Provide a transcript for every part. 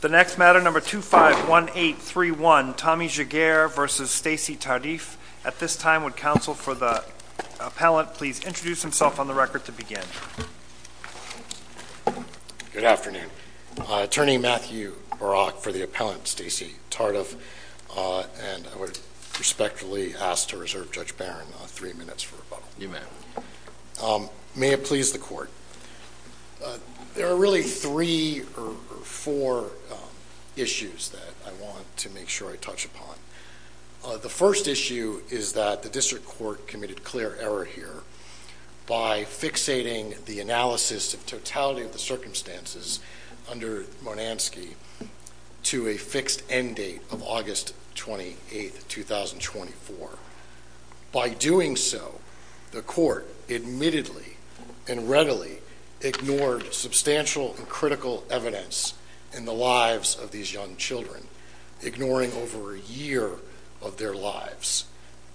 The next matter, number 251831, Tommy Giguere v. Stacey Tardif. At this time, would counsel for the appellant please introduce himself on the record to begin. Good afternoon. Attorney Matthew Barak for the appellant, Stacey Tardif, and I would respectfully ask to reserve Judge Barron three minutes for rebuttal. You may have it. May it please the court. There are really three or four issues that I want to make sure I touch upon. The first issue is that the district court committed clear error here by fixating the analysis of totality of the circumstances under Monanski to a fixed end date of August 28, 2024. By doing so, the court admittedly and readily ignored substantial and critical evidence in the lives of these young children, ignoring over a year of their lives.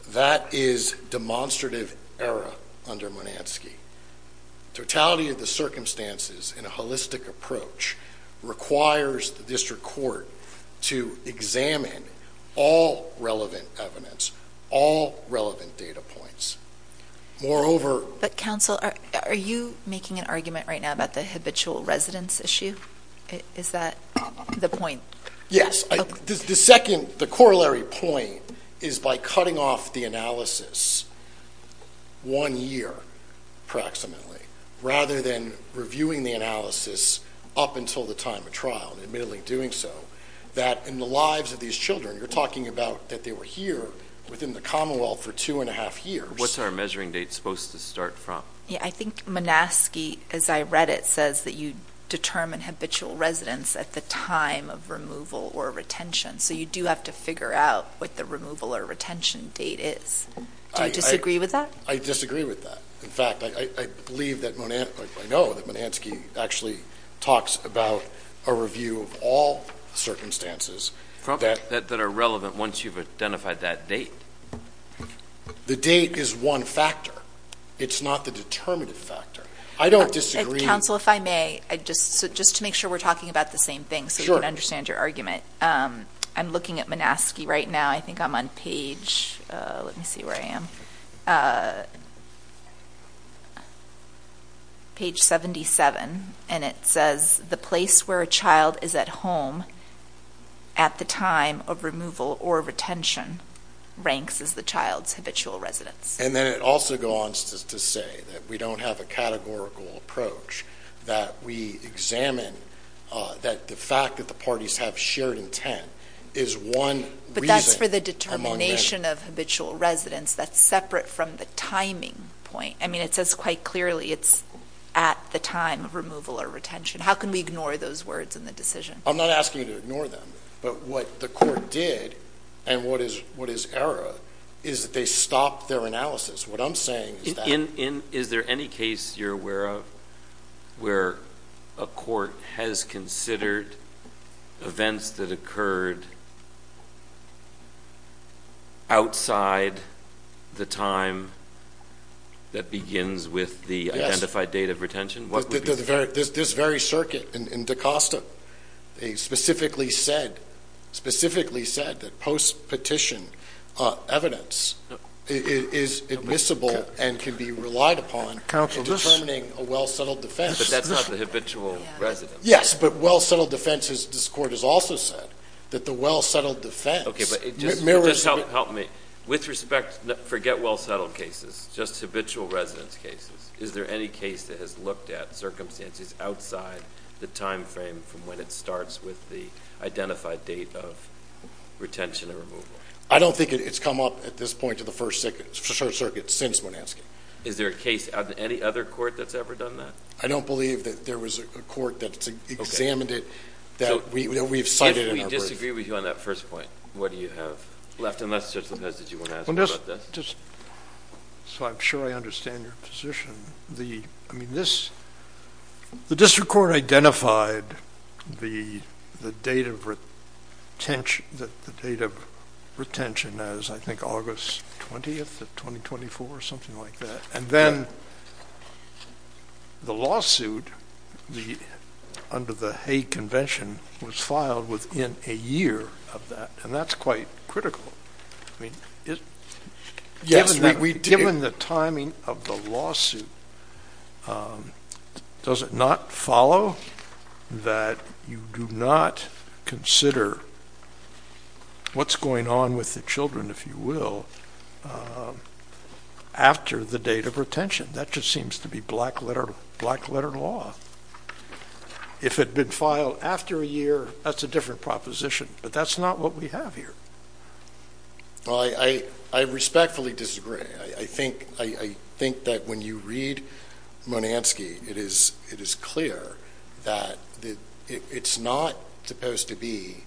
That is demonstrative error under Monanski. Totality of the circumstances in a holistic approach requires the district court to examine all relevant evidence, all relevant data points. Moreover... But counsel, are you making an argument right now about the habitual residence issue? Is that the point? Yes. The second, the corollary point is by cutting off the analysis one year, approximately, rather than reviewing the analysis up until the time of trial, admittedly doing so, that in the lives of these children, you're talking about that they were here within the Commonwealth for two and a half years. What's our measuring date supposed to start from? I think Monanski, as I read it, says that you determine habitual residence at the time of removal or retention. So you do have to figure out what the removal or retention date is. Do you disagree with that? I disagree with that. In fact, I believe that Monanski, I know that Monanski actually talks about a review of all circumstances... That are relevant once you've identified that date. The date is one factor. It's not the determinative factor. I don't disagree... Counsel, if I may, just to make sure we're talking about the same thing so we can understand your argument, I'm looking at Monanski right now. I think I'm on page... let me see where I am... Page 77, and it says the place where a child is at home at the time of removal or retention ranks as the child's habitual residence. And then it also goes on to say that we don't have a categorical approach, that we examine that the fact that the parties have shared intent is one reason... That's separate from the timing point. I mean, it says quite clearly it's at the time of removal or retention. How can we ignore those words in the decision? I'm not asking you to ignore them, but what the court did, and what is error, is that they stopped their analysis. What I'm saying is that... Is there any case you're aware of where a court has considered events that occurred outside the time that begins with the identified date of retention? This very circuit in Dacosta, they specifically said that post-petition evidence is admissible and can be relied upon in determining a well-settled defense. But that's not the habitual residence. Yes, but well-settled defense, this court has also said, that the well-settled defense... Okay, but just help me. With respect to forget well-settled cases, just habitual residence cases, is there any case that has looked at circumstances outside the time frame from when it starts with the identified date of retention or removal? I don't think it's come up at this point to the first circuit since when asked. Is there a case, any other court that's ever done that? I don't believe that there was a court that examined it, that we've cited in our brief. All right. What do you have left, unless Judge Lopez, did you want to ask more about this? Just so I'm sure I understand your position, the district court identified the date of retention as, I think, August 20th of 2024 or something like that. And then the lawsuit under the Hague Convention was filed within a year of that, and that's quite critical. Given the timing of the lawsuit, does it not follow that you do not consider what's going on with the children, if you will, after the date of retention? That just seems to be black-letter law. If it had been filed after a year, that's a different proposition, but that's not what we have here. Well, I respectfully disagree. I think that when you read Monanski, it is clear that it's not supposed to be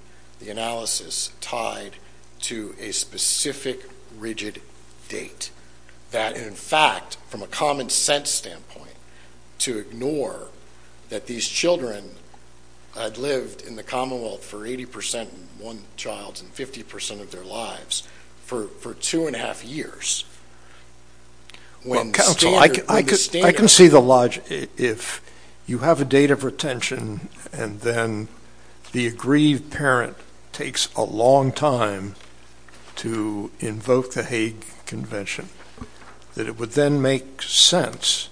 the analysis tied to a specific rigid date. That, in fact, from a common-sense standpoint, to ignore that these children had lived in the Commonwealth for 80% of one child's and 50% of their lives for two and a half years. Well, counsel, I can see the logic. If you have a date of retention and then the aggrieved parent takes a long time to invoke the Hague Convention, that it would then make sense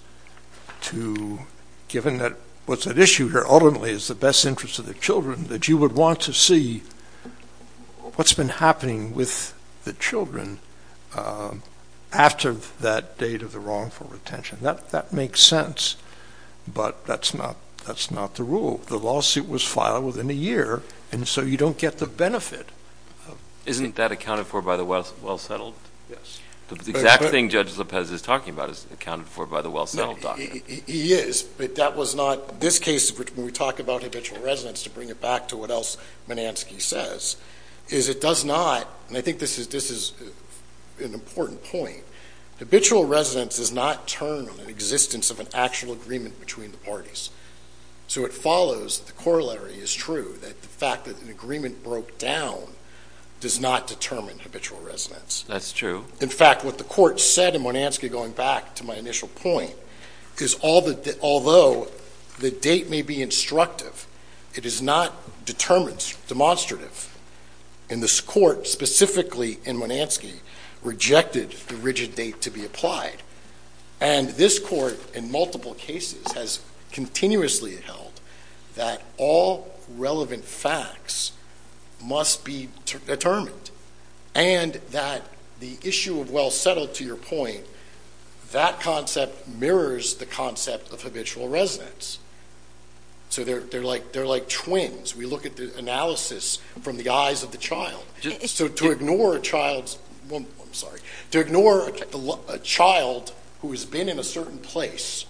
to, given that what's at issue here ultimately is the best interest of the children, that you would want to see what's been happening with the children after that date of the wrongful retention. That makes sense, but that's not the rule. The lawsuit was filed within a year, and so you don't get the benefit. Isn't that accounted for by the well-settled? Yes. The exact thing Judge Lopez is talking about is accounted for by the well-settled document. He is, but that was not this case. When we talk about habitual residence, to bring it back to what else Monanski says, is it does not, and I think this is an important point, habitual residence does not turn on the existence of an actual agreement between the parties. So it follows that the corollary is true, that the fact that an agreement broke down does not determine habitual residence. That's true. In fact, what the court said in Monanski, going back to my initial point, is although the date may be instructive, it is not determined, demonstrative, and this court specifically in Monanski rejected the rigid date to be applied, and this court in multiple cases has continuously held that all relevant facts must be determined and that the issue of well-settled, to your point, that concept mirrors the concept of habitual residence. So they're like twins. We look at the analysis from the eyes of the child. So to ignore a child who has been in a certain place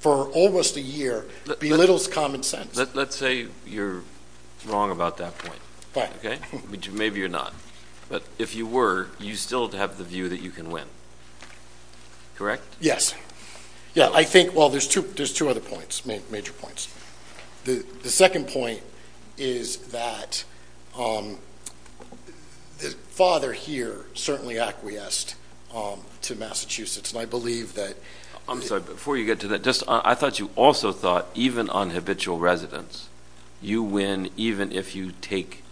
for almost a year belittles common sense. Let's say you're wrong about that point. Fine. Okay? Maybe you're not. But if you were, you still have the view that you can win. Correct? Yes. Yeah, I think, well, there's two other points, major points. The second point is that the father here certainly acquiesced to Massachusetts, and I believe that- I'm sorry, before you get to that, I thought you also thought even on habitual residence, you win even if you take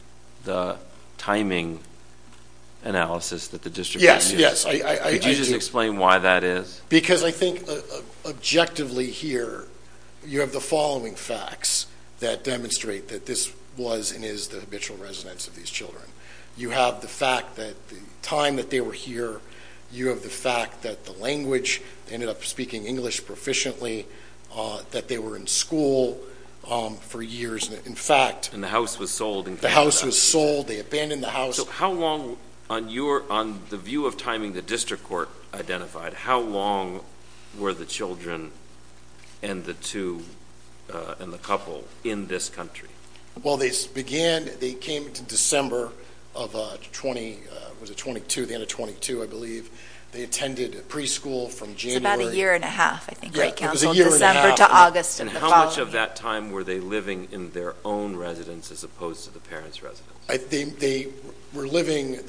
the timing analysis that the district- Yes, yes. Could you just explain why that is? Because I think objectively here you have the following facts that demonstrate that this was and is the habitual residence of these children. You have the fact that the time that they were here, you have the fact that the language, they ended up speaking English proficiently, that they were in school for years. In fact- And the house was sold. The house was sold. They abandoned the house. So how long, on the view of timing the district court identified, how long were the children and the couple in this country? Well, they came to December of 20, was it 22, the end of 22, I believe. They attended preschool from January- It was about a year and a half, I think. It was a year and a half. December to August. And how much of that time were they living in their own residence as opposed to the parents' residence? They were living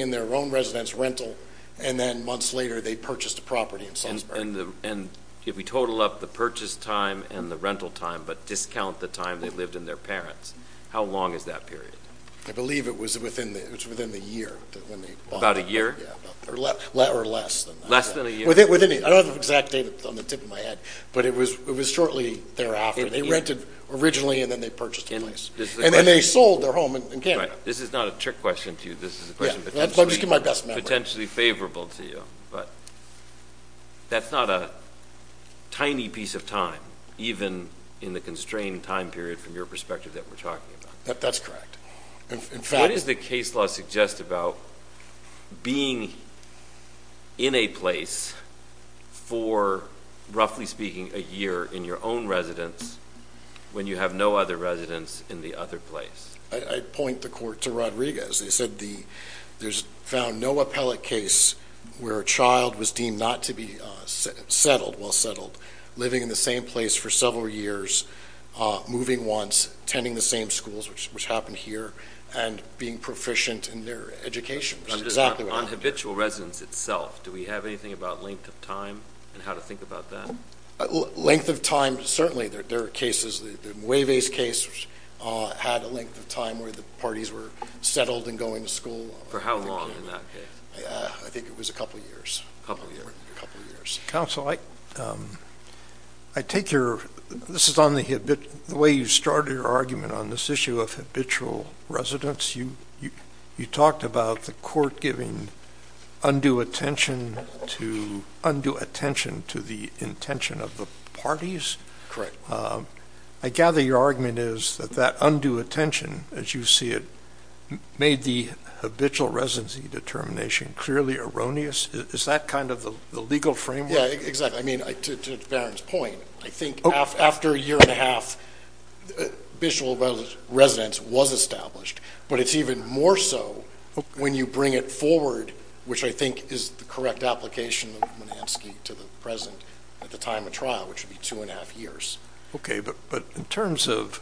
in their own residence, rental, and then months later they purchased a property in Salzburg. And if we total up the purchase time and the rental time but discount the time they lived in their parents, how long is that period? I believe it was within the year when they bought it. About a year? Or less than that. Less than a year? I don't have an exact date on the tip of my head, but it was shortly thereafter. They rented originally and then they purchased a place. And then they sold their home in Canada. This is not a trick question to you. This is a question potentially favorable to you. But that's not a tiny piece of time, even in the constrained time period from your perspective that we're talking about. That's correct. What does the case law suggest about being in a place for, roughly speaking, a year in your own residence when you have no other residence in the other place? I'd point the court to Rodriguez. They said there's found no appellate case where a child was deemed not to be settled, well settled, living in the same place for several years, moving once, attending the same schools, which happened here, and being proficient in their education. On habitual residence itself, do we have anything about length of time and how to think about that? Length of time, certainly. There are cases, the Mueve's case had a length of time where the parties were settled and going to school. For how long in that case? I think it was a couple of years. A couple of years. Counsel, I take your ‑‑ this is on the way you started your argument on this issue of habitual residence. You talked about the court giving undue attention to the intention of the parties. Correct. I gather your argument is that that undue attention, as you see it, made the habitual residency determination clearly erroneous. Is that kind of the legal framework? Yeah, exactly. I mean, to Barron's point, I think after a year and a half, habitual residence was established. But it's even more so when you bring it forward, which I think is the correct application of Monanski to the president at the time of trial, which would be two and a half years. Okay, but in terms of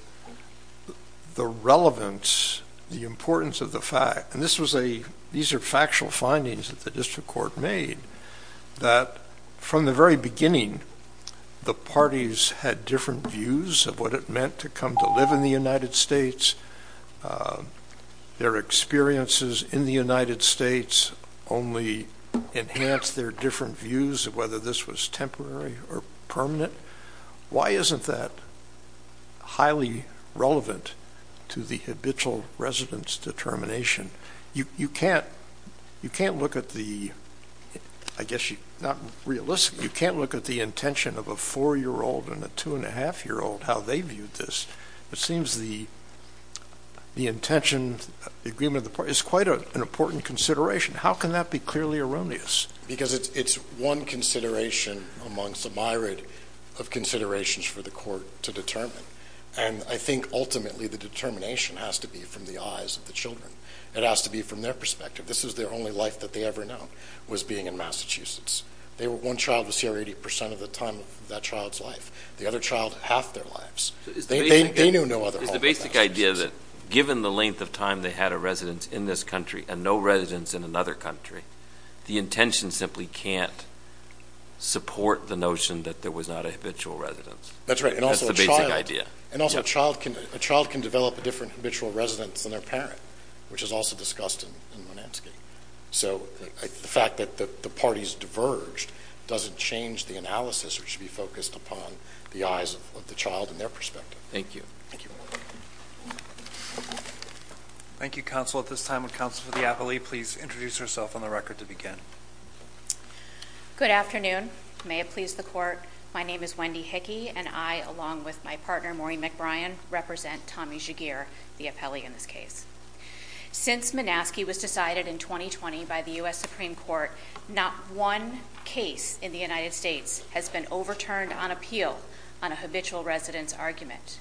the relevance, the importance of the fact, and these are factual findings that the district court made, that from the very beginning the parties had different views of what it meant to come to live in the United States. Their experiences in the United States only enhanced their different views of whether this was temporary or permanent. Why isn't that highly relevant to the habitual residence determination? You can't look at the, I guess not realistically, you can't look at the intention of a four-year-old and a two-and-a-half-year-old, how they viewed this. It seems the intention, the agreement of the parties, is quite an important consideration. How can that be clearly erroneous? Because it's one consideration amongst a myriad of considerations for the court to determine. And I think ultimately the determination has to be from the eyes of the children. It has to be from their perspective. This is their only life that they ever know, was being in Massachusetts. One child was here 80 percent of the time of that child's life. The other child, half their lives. They knew no other home in Massachusetts. Is the basic idea that given the length of time they had a residence in this country and no residence in another country, the intention simply can't support the notion that there was not a habitual residence. That's right. That's the basic idea. And also a child can develop a different habitual residence than their parent, which is also discussed in Monansky. So the fact that the parties diverged doesn't change the analysis which should be focused upon the eyes of the child and their perspective. Thank you. Thank you. Thank you, Counsel. At this time, would Counsel for the Appellee please introduce herself on the record to begin. Good afternoon. May it please the Court. My name is Wendy Hickey, and I, along with my partner, Maureen McBrien, represent Tommy Jagir, the appellee in this case. Since Monansky was decided in 2020 by the U.S. Supreme Court, not one case in the United States has been overturned on appeal on a habitual residence argument.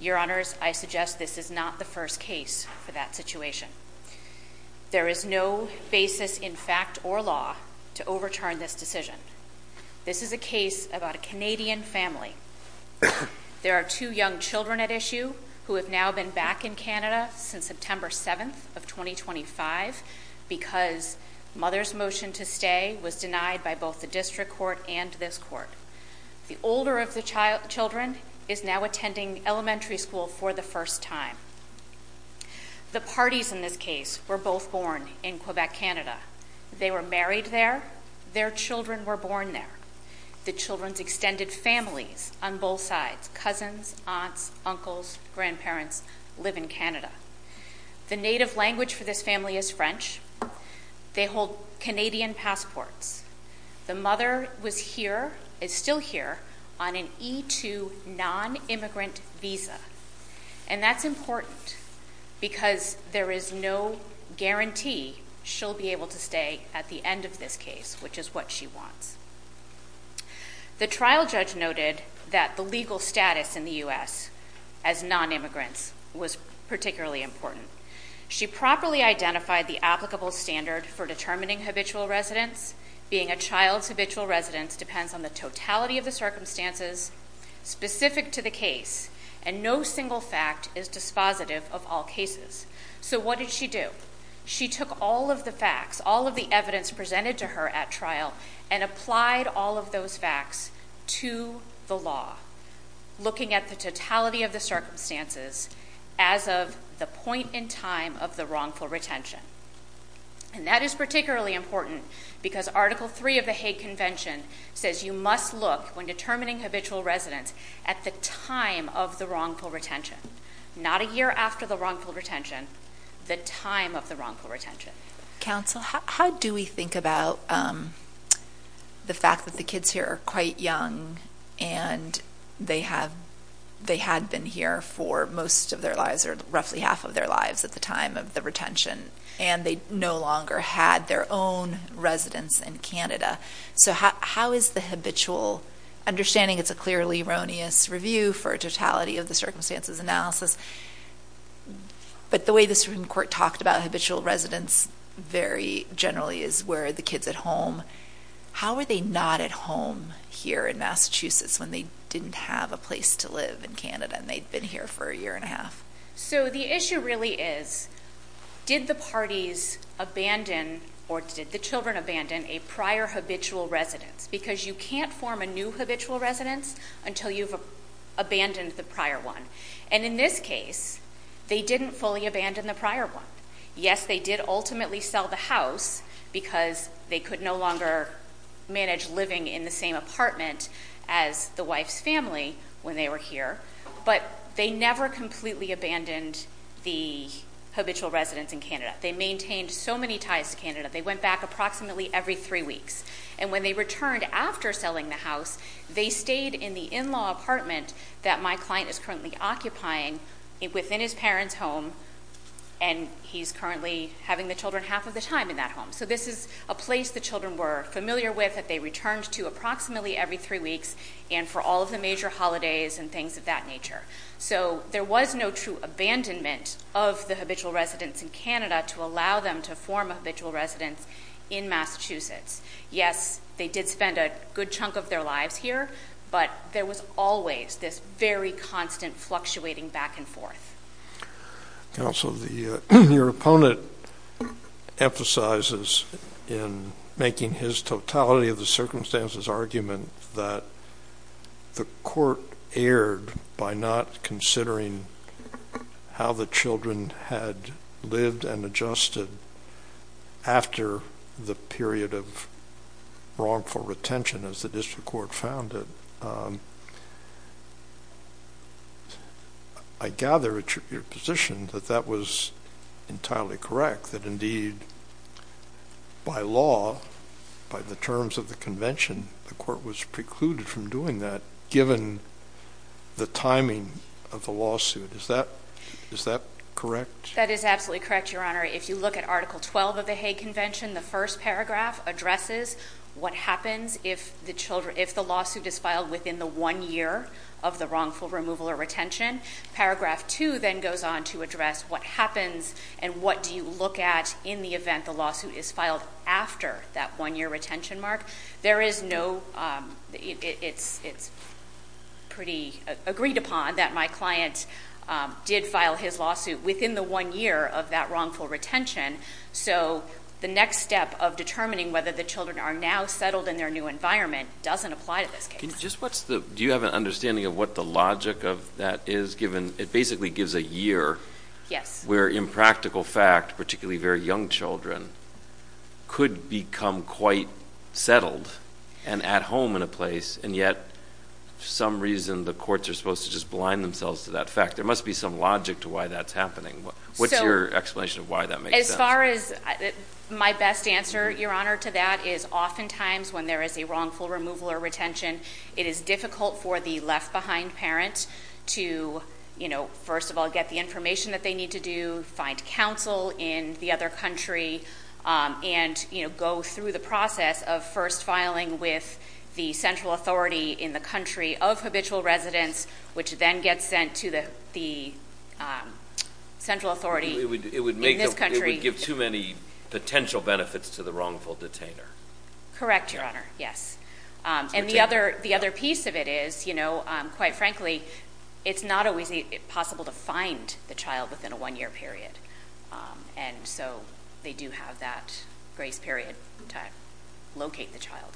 Your Honors, I suggest this is not the first case for that situation. There is no basis in fact or law to overturn this decision. This is a case about a Canadian family. There are two young children at issue who have now been back in Canada since September 7th of 2025 because mother's motion to stay was denied by both the district court and this court. The older of the children is now attending elementary school for the first time. The parties in this case were both born in Quebec, Canada. They were married there. Their children were born there. The children's extended families on both sides, cousins, aunts, uncles, grandparents, live in Canada. The native language for this family is French. They hold Canadian passports. The mother was here, is still here, on an E-2 non-immigrant visa, and that's important because there is no guarantee she'll be able to stay at the end of this case, which is what she wants. The trial judge noted that the legal status in the U.S. as non-immigrants was particularly important. She properly identified the applicable standard for determining habitual residence. Being a child's habitual residence depends on the totality of the circumstances specific to the case, and no single fact is dispositive of all cases. So what did she do? She took all of the facts, all of the evidence presented to her at trial, and applied all of those facts to the law, looking at the totality of the circumstances as of the point in time of the wrongful retention. And that is particularly important because Article III of the Hague Convention says you must look, when determining habitual residence, at the time of the wrongful retention, not a year after the wrongful retention, the time of the wrongful retention. Counsel, how do we think about the fact that the kids here are quite young and they had been here for most of their lives, or roughly half of their lives at the time of the retention, and they no longer had their own residence in Canada? So how is the habitual? Understanding it's a clearly erroneous review for a totality of the circumstances analysis, but the way the Supreme Court talked about habitual residence very generally is where are the kids at home. How are they not at home here in Massachusetts when they didn't have a place to live in Canada and they'd been here for a year and a half? So the issue really is did the parties abandon, or did the children abandon, a prior habitual residence? Because you can't form a new habitual residence until you've abandoned the prior one. And in this case, they didn't fully abandon the prior one. Yes, they did ultimately sell the house because they could no longer manage living in the same apartment as the wife's family when they were here, but they never completely abandoned the habitual residence in Canada. They maintained so many ties to Canada. They went back approximately every three weeks. And when they returned after selling the house, they stayed in the in-law apartment that my client is currently occupying within his parents' home, and he's currently having the children half of the time in that home. So this is a place the children were familiar with that they returned to approximately every three weeks and for all of the major holidays and things of that nature. So there was no true abandonment of the habitual residence in Canada to allow them to form a habitual residence in Massachusetts. Yes, they did spend a good chunk of their lives here, but there was always this very constant fluctuating back and forth. Counsel, your opponent emphasizes in making his totality of the circumstances argument that the court erred by not considering how the children had lived and adjusted after the period of wrongful retention as the district court found it. I gather at your position that that was entirely correct, that indeed by law, by the terms of the convention, the court was precluded from doing that given the timing of the lawsuit. Is that correct? That is absolutely correct, Your Honor. If you look at Article 12 of the Hague Convention, the first paragraph addresses what happens if the lawsuit is filed within the one year of the wrongful removal or retention. Paragraph 2 then goes on to address what happens and what do you look at in the event the lawsuit is filed after that one-year retention mark. There is no—it's pretty agreed upon that my client did file his lawsuit within the one year of that wrongful retention, so the next step of determining whether the children are now settled in their new environment doesn't apply to this case. Do you have an understanding of what the logic of that is, given it basically gives a year where impractical fact, particularly very young children, could become quite settled and at home in a place, and yet for some reason the courts are supposed to just blind themselves to that fact? There must be some logic to why that's happening. What's your explanation of why that makes sense? As far as my best answer, Your Honor, to that is oftentimes when there is a wrongful removal or retention, it is difficult for the left-behind parent to, first of all, get the information that they need to do, find counsel in the other country, and go through the process of first filing with the central authority in the country of habitual residence, which then gets sent to the central authority in this country. It would give too many potential benefits to the wrongful detainer. Correct, Your Honor, yes. And the other piece of it is, quite frankly, it's not always possible to find the child within a one-year period, and so they do have that grace period to locate the child.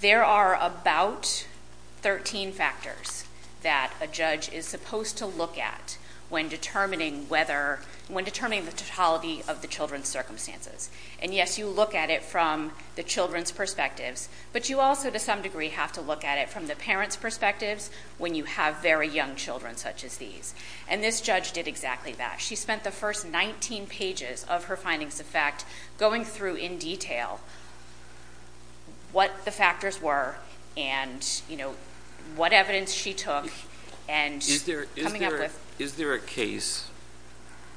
There are about 13 factors that a judge is supposed to look at when determining the totality of the children's circumstances. And, yes, you look at it from the children's perspectives, but you also, to some degree, have to look at it from the parents' perspectives when you have very young children such as these, and this judge did exactly that. She spent the first 19 pages of her findings of fact going through in detail what the factors were and what evidence she took and coming up with. Is there a case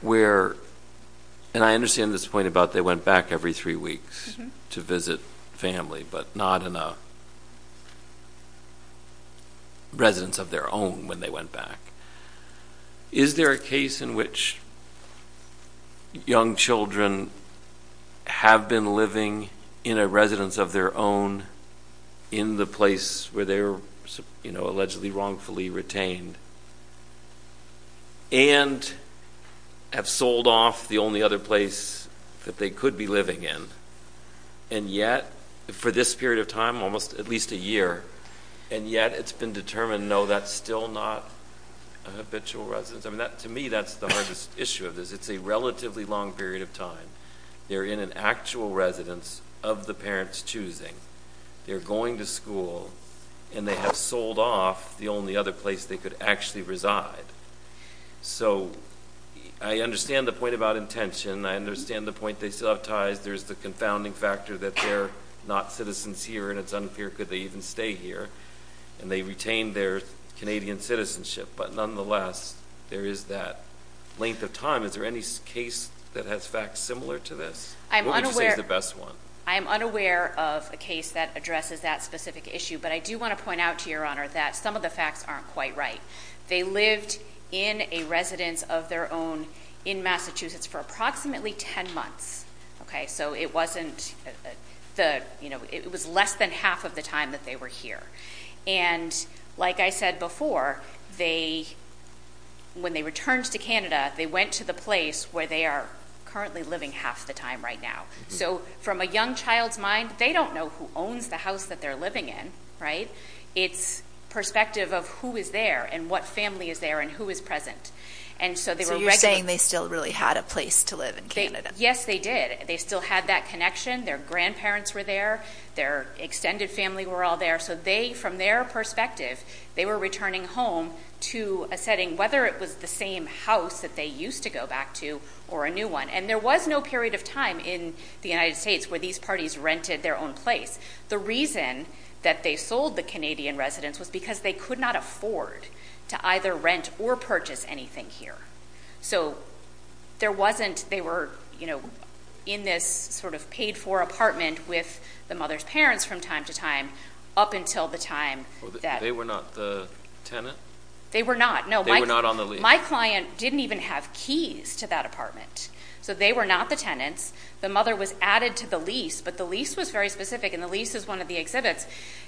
where, and I understand this point about they went back every three weeks to visit family, but not in a residence of their own when they went back. Is there a case in which young children have been living in a residence of their own in the place where they were allegedly wrongfully retained and have sold off the only other place that they could be living in, and yet, for this period of time, almost at least a year, and yet it's been determined, no, that's still not a habitual residence. To me, that's the hardest issue of this. It's a relatively long period of time. They're in an actual residence of the parents' choosing. They're going to school, and they have sold off the only other place they could actually reside. So I understand the point about intention. I understand the point they still have ties. There's the confounding factor that they're not citizens here, and it's unclear could they even stay here, and they retained their Canadian citizenship. But nonetheless, there is that length of time. Is there any case that has facts similar to this? What would you say is the best one? I am unaware of a case that addresses that specific issue, but I do want to point out to Your Honor that some of the facts aren't quite right. They lived in a residence of their own in Massachusetts for approximately ten months. So it was less than half of the time that they were here. And like I said before, when they returned to Canada, they went to the place where they are currently living half the time right now. So from a young child's mind, they don't know who owns the house that they're living in. It's perspective of who is there and what family is there and who is present. So you're saying they still really had a place to live in Canada? Yes, they did. They still had that connection. Their grandparents were there. Their extended family were all there. So they, from their perspective, they were returning home to a setting, whether it was the same house that they used to go back to or a new one. And there was no period of time in the United States where these parties rented their own place. The reason that they sold the Canadian residence was because they could not afford to either rent or purchase anything here. So there wasn't, they were in this sort of paid-for apartment with the mother's parents from time to time up until the time that. They were not the tenant? They were not. They were not on the lease. My client didn't even have keys to that apartment. So they were not the tenants. The mother was added to the lease, but the lease was very specific, and the lease is one of the exhibits.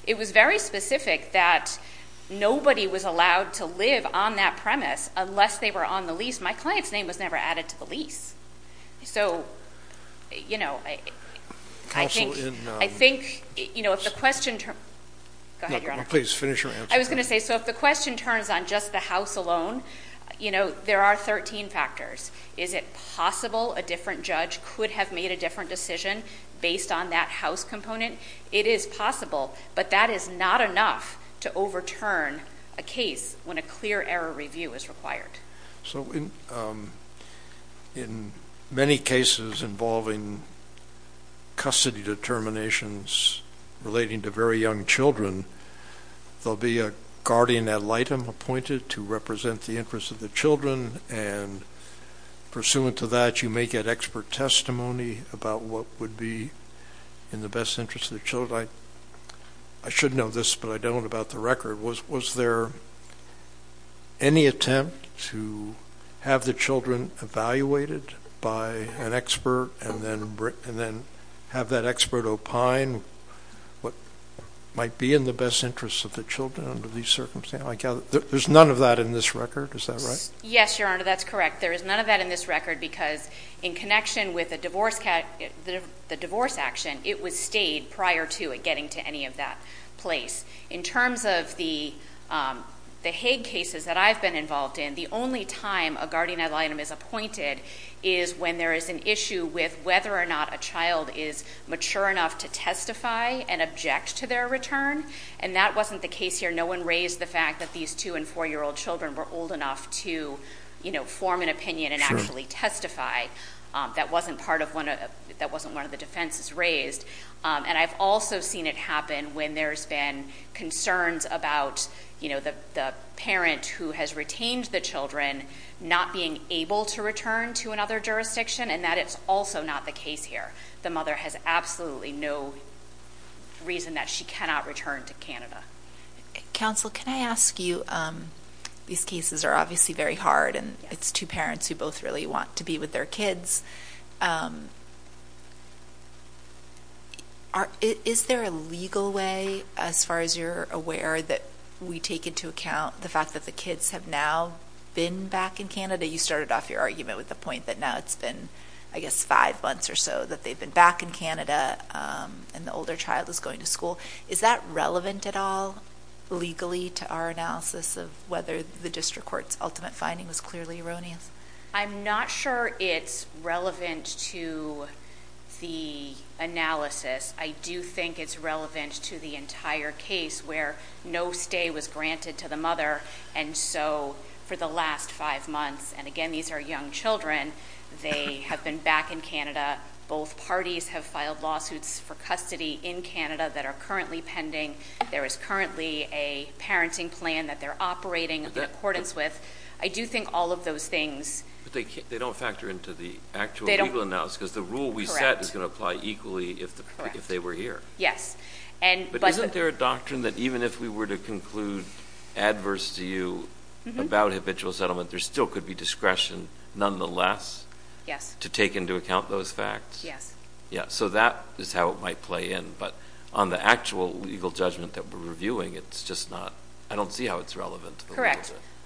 It was very specific that nobody was allowed to live on that premise unless they were on the lease. My client's name was never added to the lease. So, you know, I think, you know, if the question. Go ahead, Your Honor. Please finish your answer. I was going to say, so if the question turns on just the house alone, you know, there are 13 factors. Is it possible a different judge could have made a different decision based on that house component? It is possible, but that is not enough to overturn a case when a clear error review is required. So in many cases involving custody determinations relating to very young children, there will be a guardian ad litem appointed to represent the interests of the children, and pursuant to that, you may get expert testimony about what would be in the best interest of the children. I should know this, but I don't about the record. Was there any attempt to have the children evaluated by an expert and then have that expert opine what might be in the best interest of the children under these circumstances? There's none of that in this record. Is that right? Yes, Your Honor, that's correct. There is none of that in this record because in connection with the divorce action, it was stayed prior to it getting to any of that place. In terms of the Hague cases that I've been involved in, the only time a guardian ad litem is appointed is when there is an issue with whether or not a child is mature enough to testify and object to their return, and that wasn't the case here. No one raised the fact that these 2- and 4-year-old children were old enough to form an opinion and actually testify. That wasn't one of the defenses raised. And I've also seen it happen when there's been concerns about the parent who has retained the children not being able to return to another jurisdiction, and that is also not the case here. The mother has absolutely no reason that she cannot return to Canada. Counsel, can I ask you, these cases are obviously very hard, and it's 2 parents who both really want to be with their kids. Is there a legal way, as far as you're aware, that we take into account the fact that the kids have now been back in Canada? You started off your argument with the point that now it's been, I guess, 5 months or so that they've been back in Canada and the older child is going to school. Is that relevant at all legally to our analysis of whether the district court's ultimate finding was clearly erroneous? I'm not sure it's relevant to the analysis. I do think it's relevant to the entire case where no stay was granted to the mother, and so for the last 5 months, and again, these are young children, they have been back in Canada. Both parties have filed lawsuits for custody in Canada that are currently pending. There is currently a parenting plan that they're operating in accordance with. I do think all of those things... But they don't factor into the actual legal analysis because the rule we set is going to apply equally if they were here. But isn't there a doctrine that even if we were to conclude adverse to you about habitual settlement, there still could be discretion nonetheless to take into account those facts? Yes. So that is how it might play in, but on the actual legal judgment that we're reviewing, I don't see how it's relevant.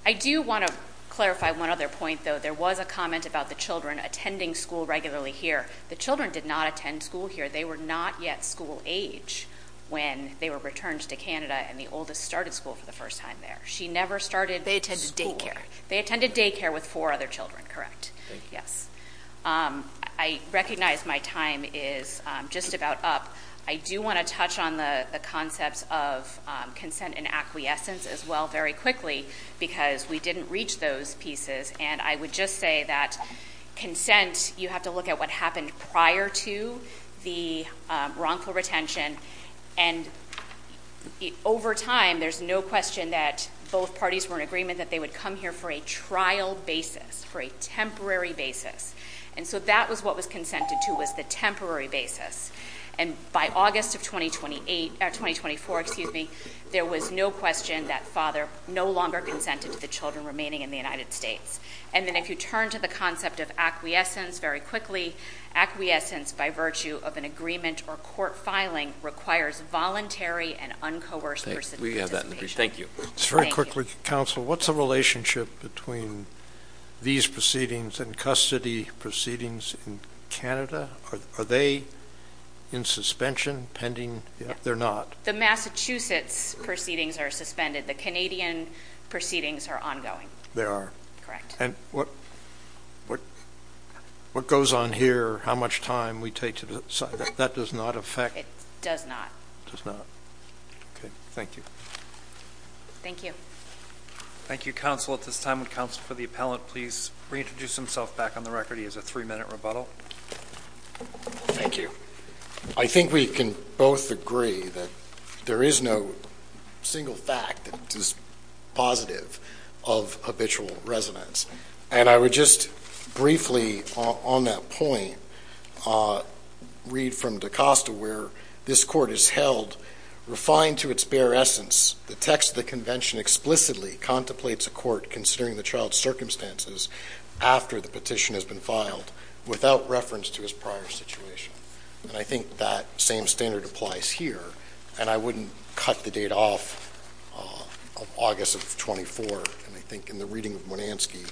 I do want to clarify one other point, though. There was a comment about the children attending school regularly here. The children did not attend school here. They were not yet school age when they were returned to Canada, and the oldest started school for the first time there. She never started school. They attended daycare with four other children, correct. Yes. I recognize my time is just about up. I do want to touch on the concepts of consent and acquiescence as well very quickly because we didn't reach those pieces, and I would just say that consent, you have to look at what happened prior to the wrongful retention. And over time, there's no question that both parties were in agreement that they would come here for a trial basis, for a temporary basis. And so that was what was consented to was the temporary basis. And by August of 2024, there was no question that father no longer consented to the children remaining in the United States. And then if you turn to the concept of acquiescence very quickly, acquiescence by virtue of an agreement or court filing requires voluntary and uncoerced person participation. Thank you. Very quickly, counsel, what's the relationship between these proceedings and custody proceedings in Canada? Are they in suspension, pending? They're not. The Massachusetts proceedings are suspended. The Canadian proceedings are ongoing. They are. Correct. And what goes on here, how much time we take to decide, that does not affect? It does not. It does not. Okay. Thank you. Thank you. Thank you, counsel. At this time, would counsel for the appellant please reintroduce himself back on the record? He has a three-minute rebuttal. Thank you. I think we can both agree that there is no single fact that is positive of habitual residence. And I would just briefly on that point read from DaCosta where this court has held, refined to its bare essence, the text of the convention explicitly contemplates a court considering the child's circumstances after the petition has been filed without reference to his prior situation. And I think that same standard applies here. And I wouldn't cut the date off of August of 24. And I think in the reading of Monanski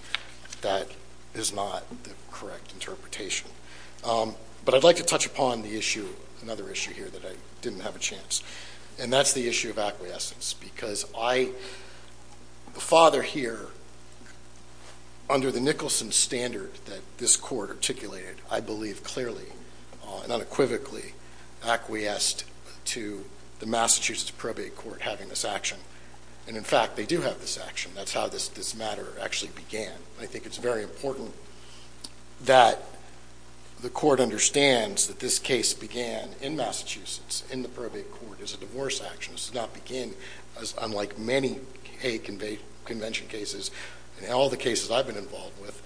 that is not the correct interpretation. But I'd like to touch upon the issue, another issue here that I didn't have a chance. And that's the issue of acquiescence. Because I, the father here, under the Nicholson standard that this court articulated, I believe clearly and unequivocally acquiesced to the Massachusetts Probate Court having this action. And, in fact, they do have this action. That's how this matter actually began. And I think it's very important that the court understands that this case began in Massachusetts in the Probate Court as a divorce action. This did not begin, unlike many hate convention cases and all the cases I've been involved with,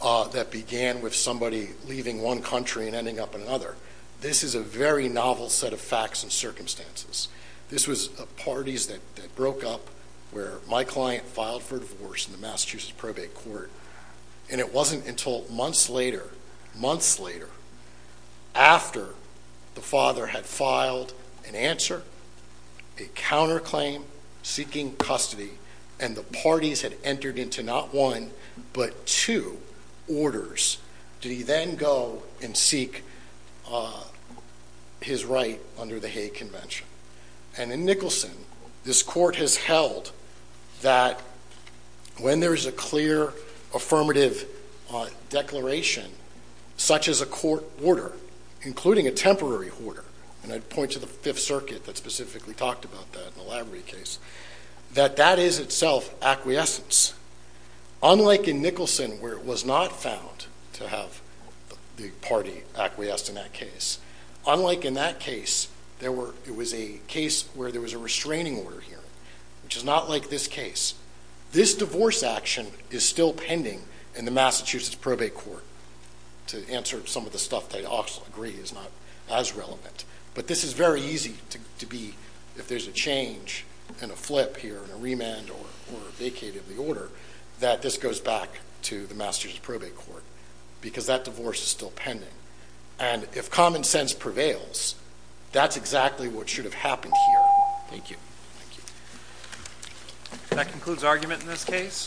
that began with somebody leaving one country and ending up in another. This is a very novel set of facts and circumstances. This was parties that broke up where my client filed for divorce in the Massachusetts Probate Court. And it wasn't until months later, months later, after the father had filed an answer, a counterclaim, seeking custody, and the parties had entered into not one but two orders, did he then go and seek his right under the hate convention. And in Nicholson, this court has held that when there is a clear affirmative declaration, such as a court order, including a temporary order, and I'd point to the Fifth Circuit that specifically talked about that in the Lavery case, that that is itself acquiescence. Unlike in Nicholson, where it was not found to have the party acquiesced in that case, unlike in that case, it was a case where there was a restraining order here, which is not like this case. This divorce action is still pending in the Massachusetts Probate Court. To answer some of the stuff that I'd also agree is not as relevant. But this is very easy to be, if there's a change and a flip here, and a remand or a vacate of the order, that this goes back to the Massachusetts Probate Court because that divorce is still pending. And if common sense prevails, that's exactly what should have happened here. Thank you. Thank you. That concludes argument in this case.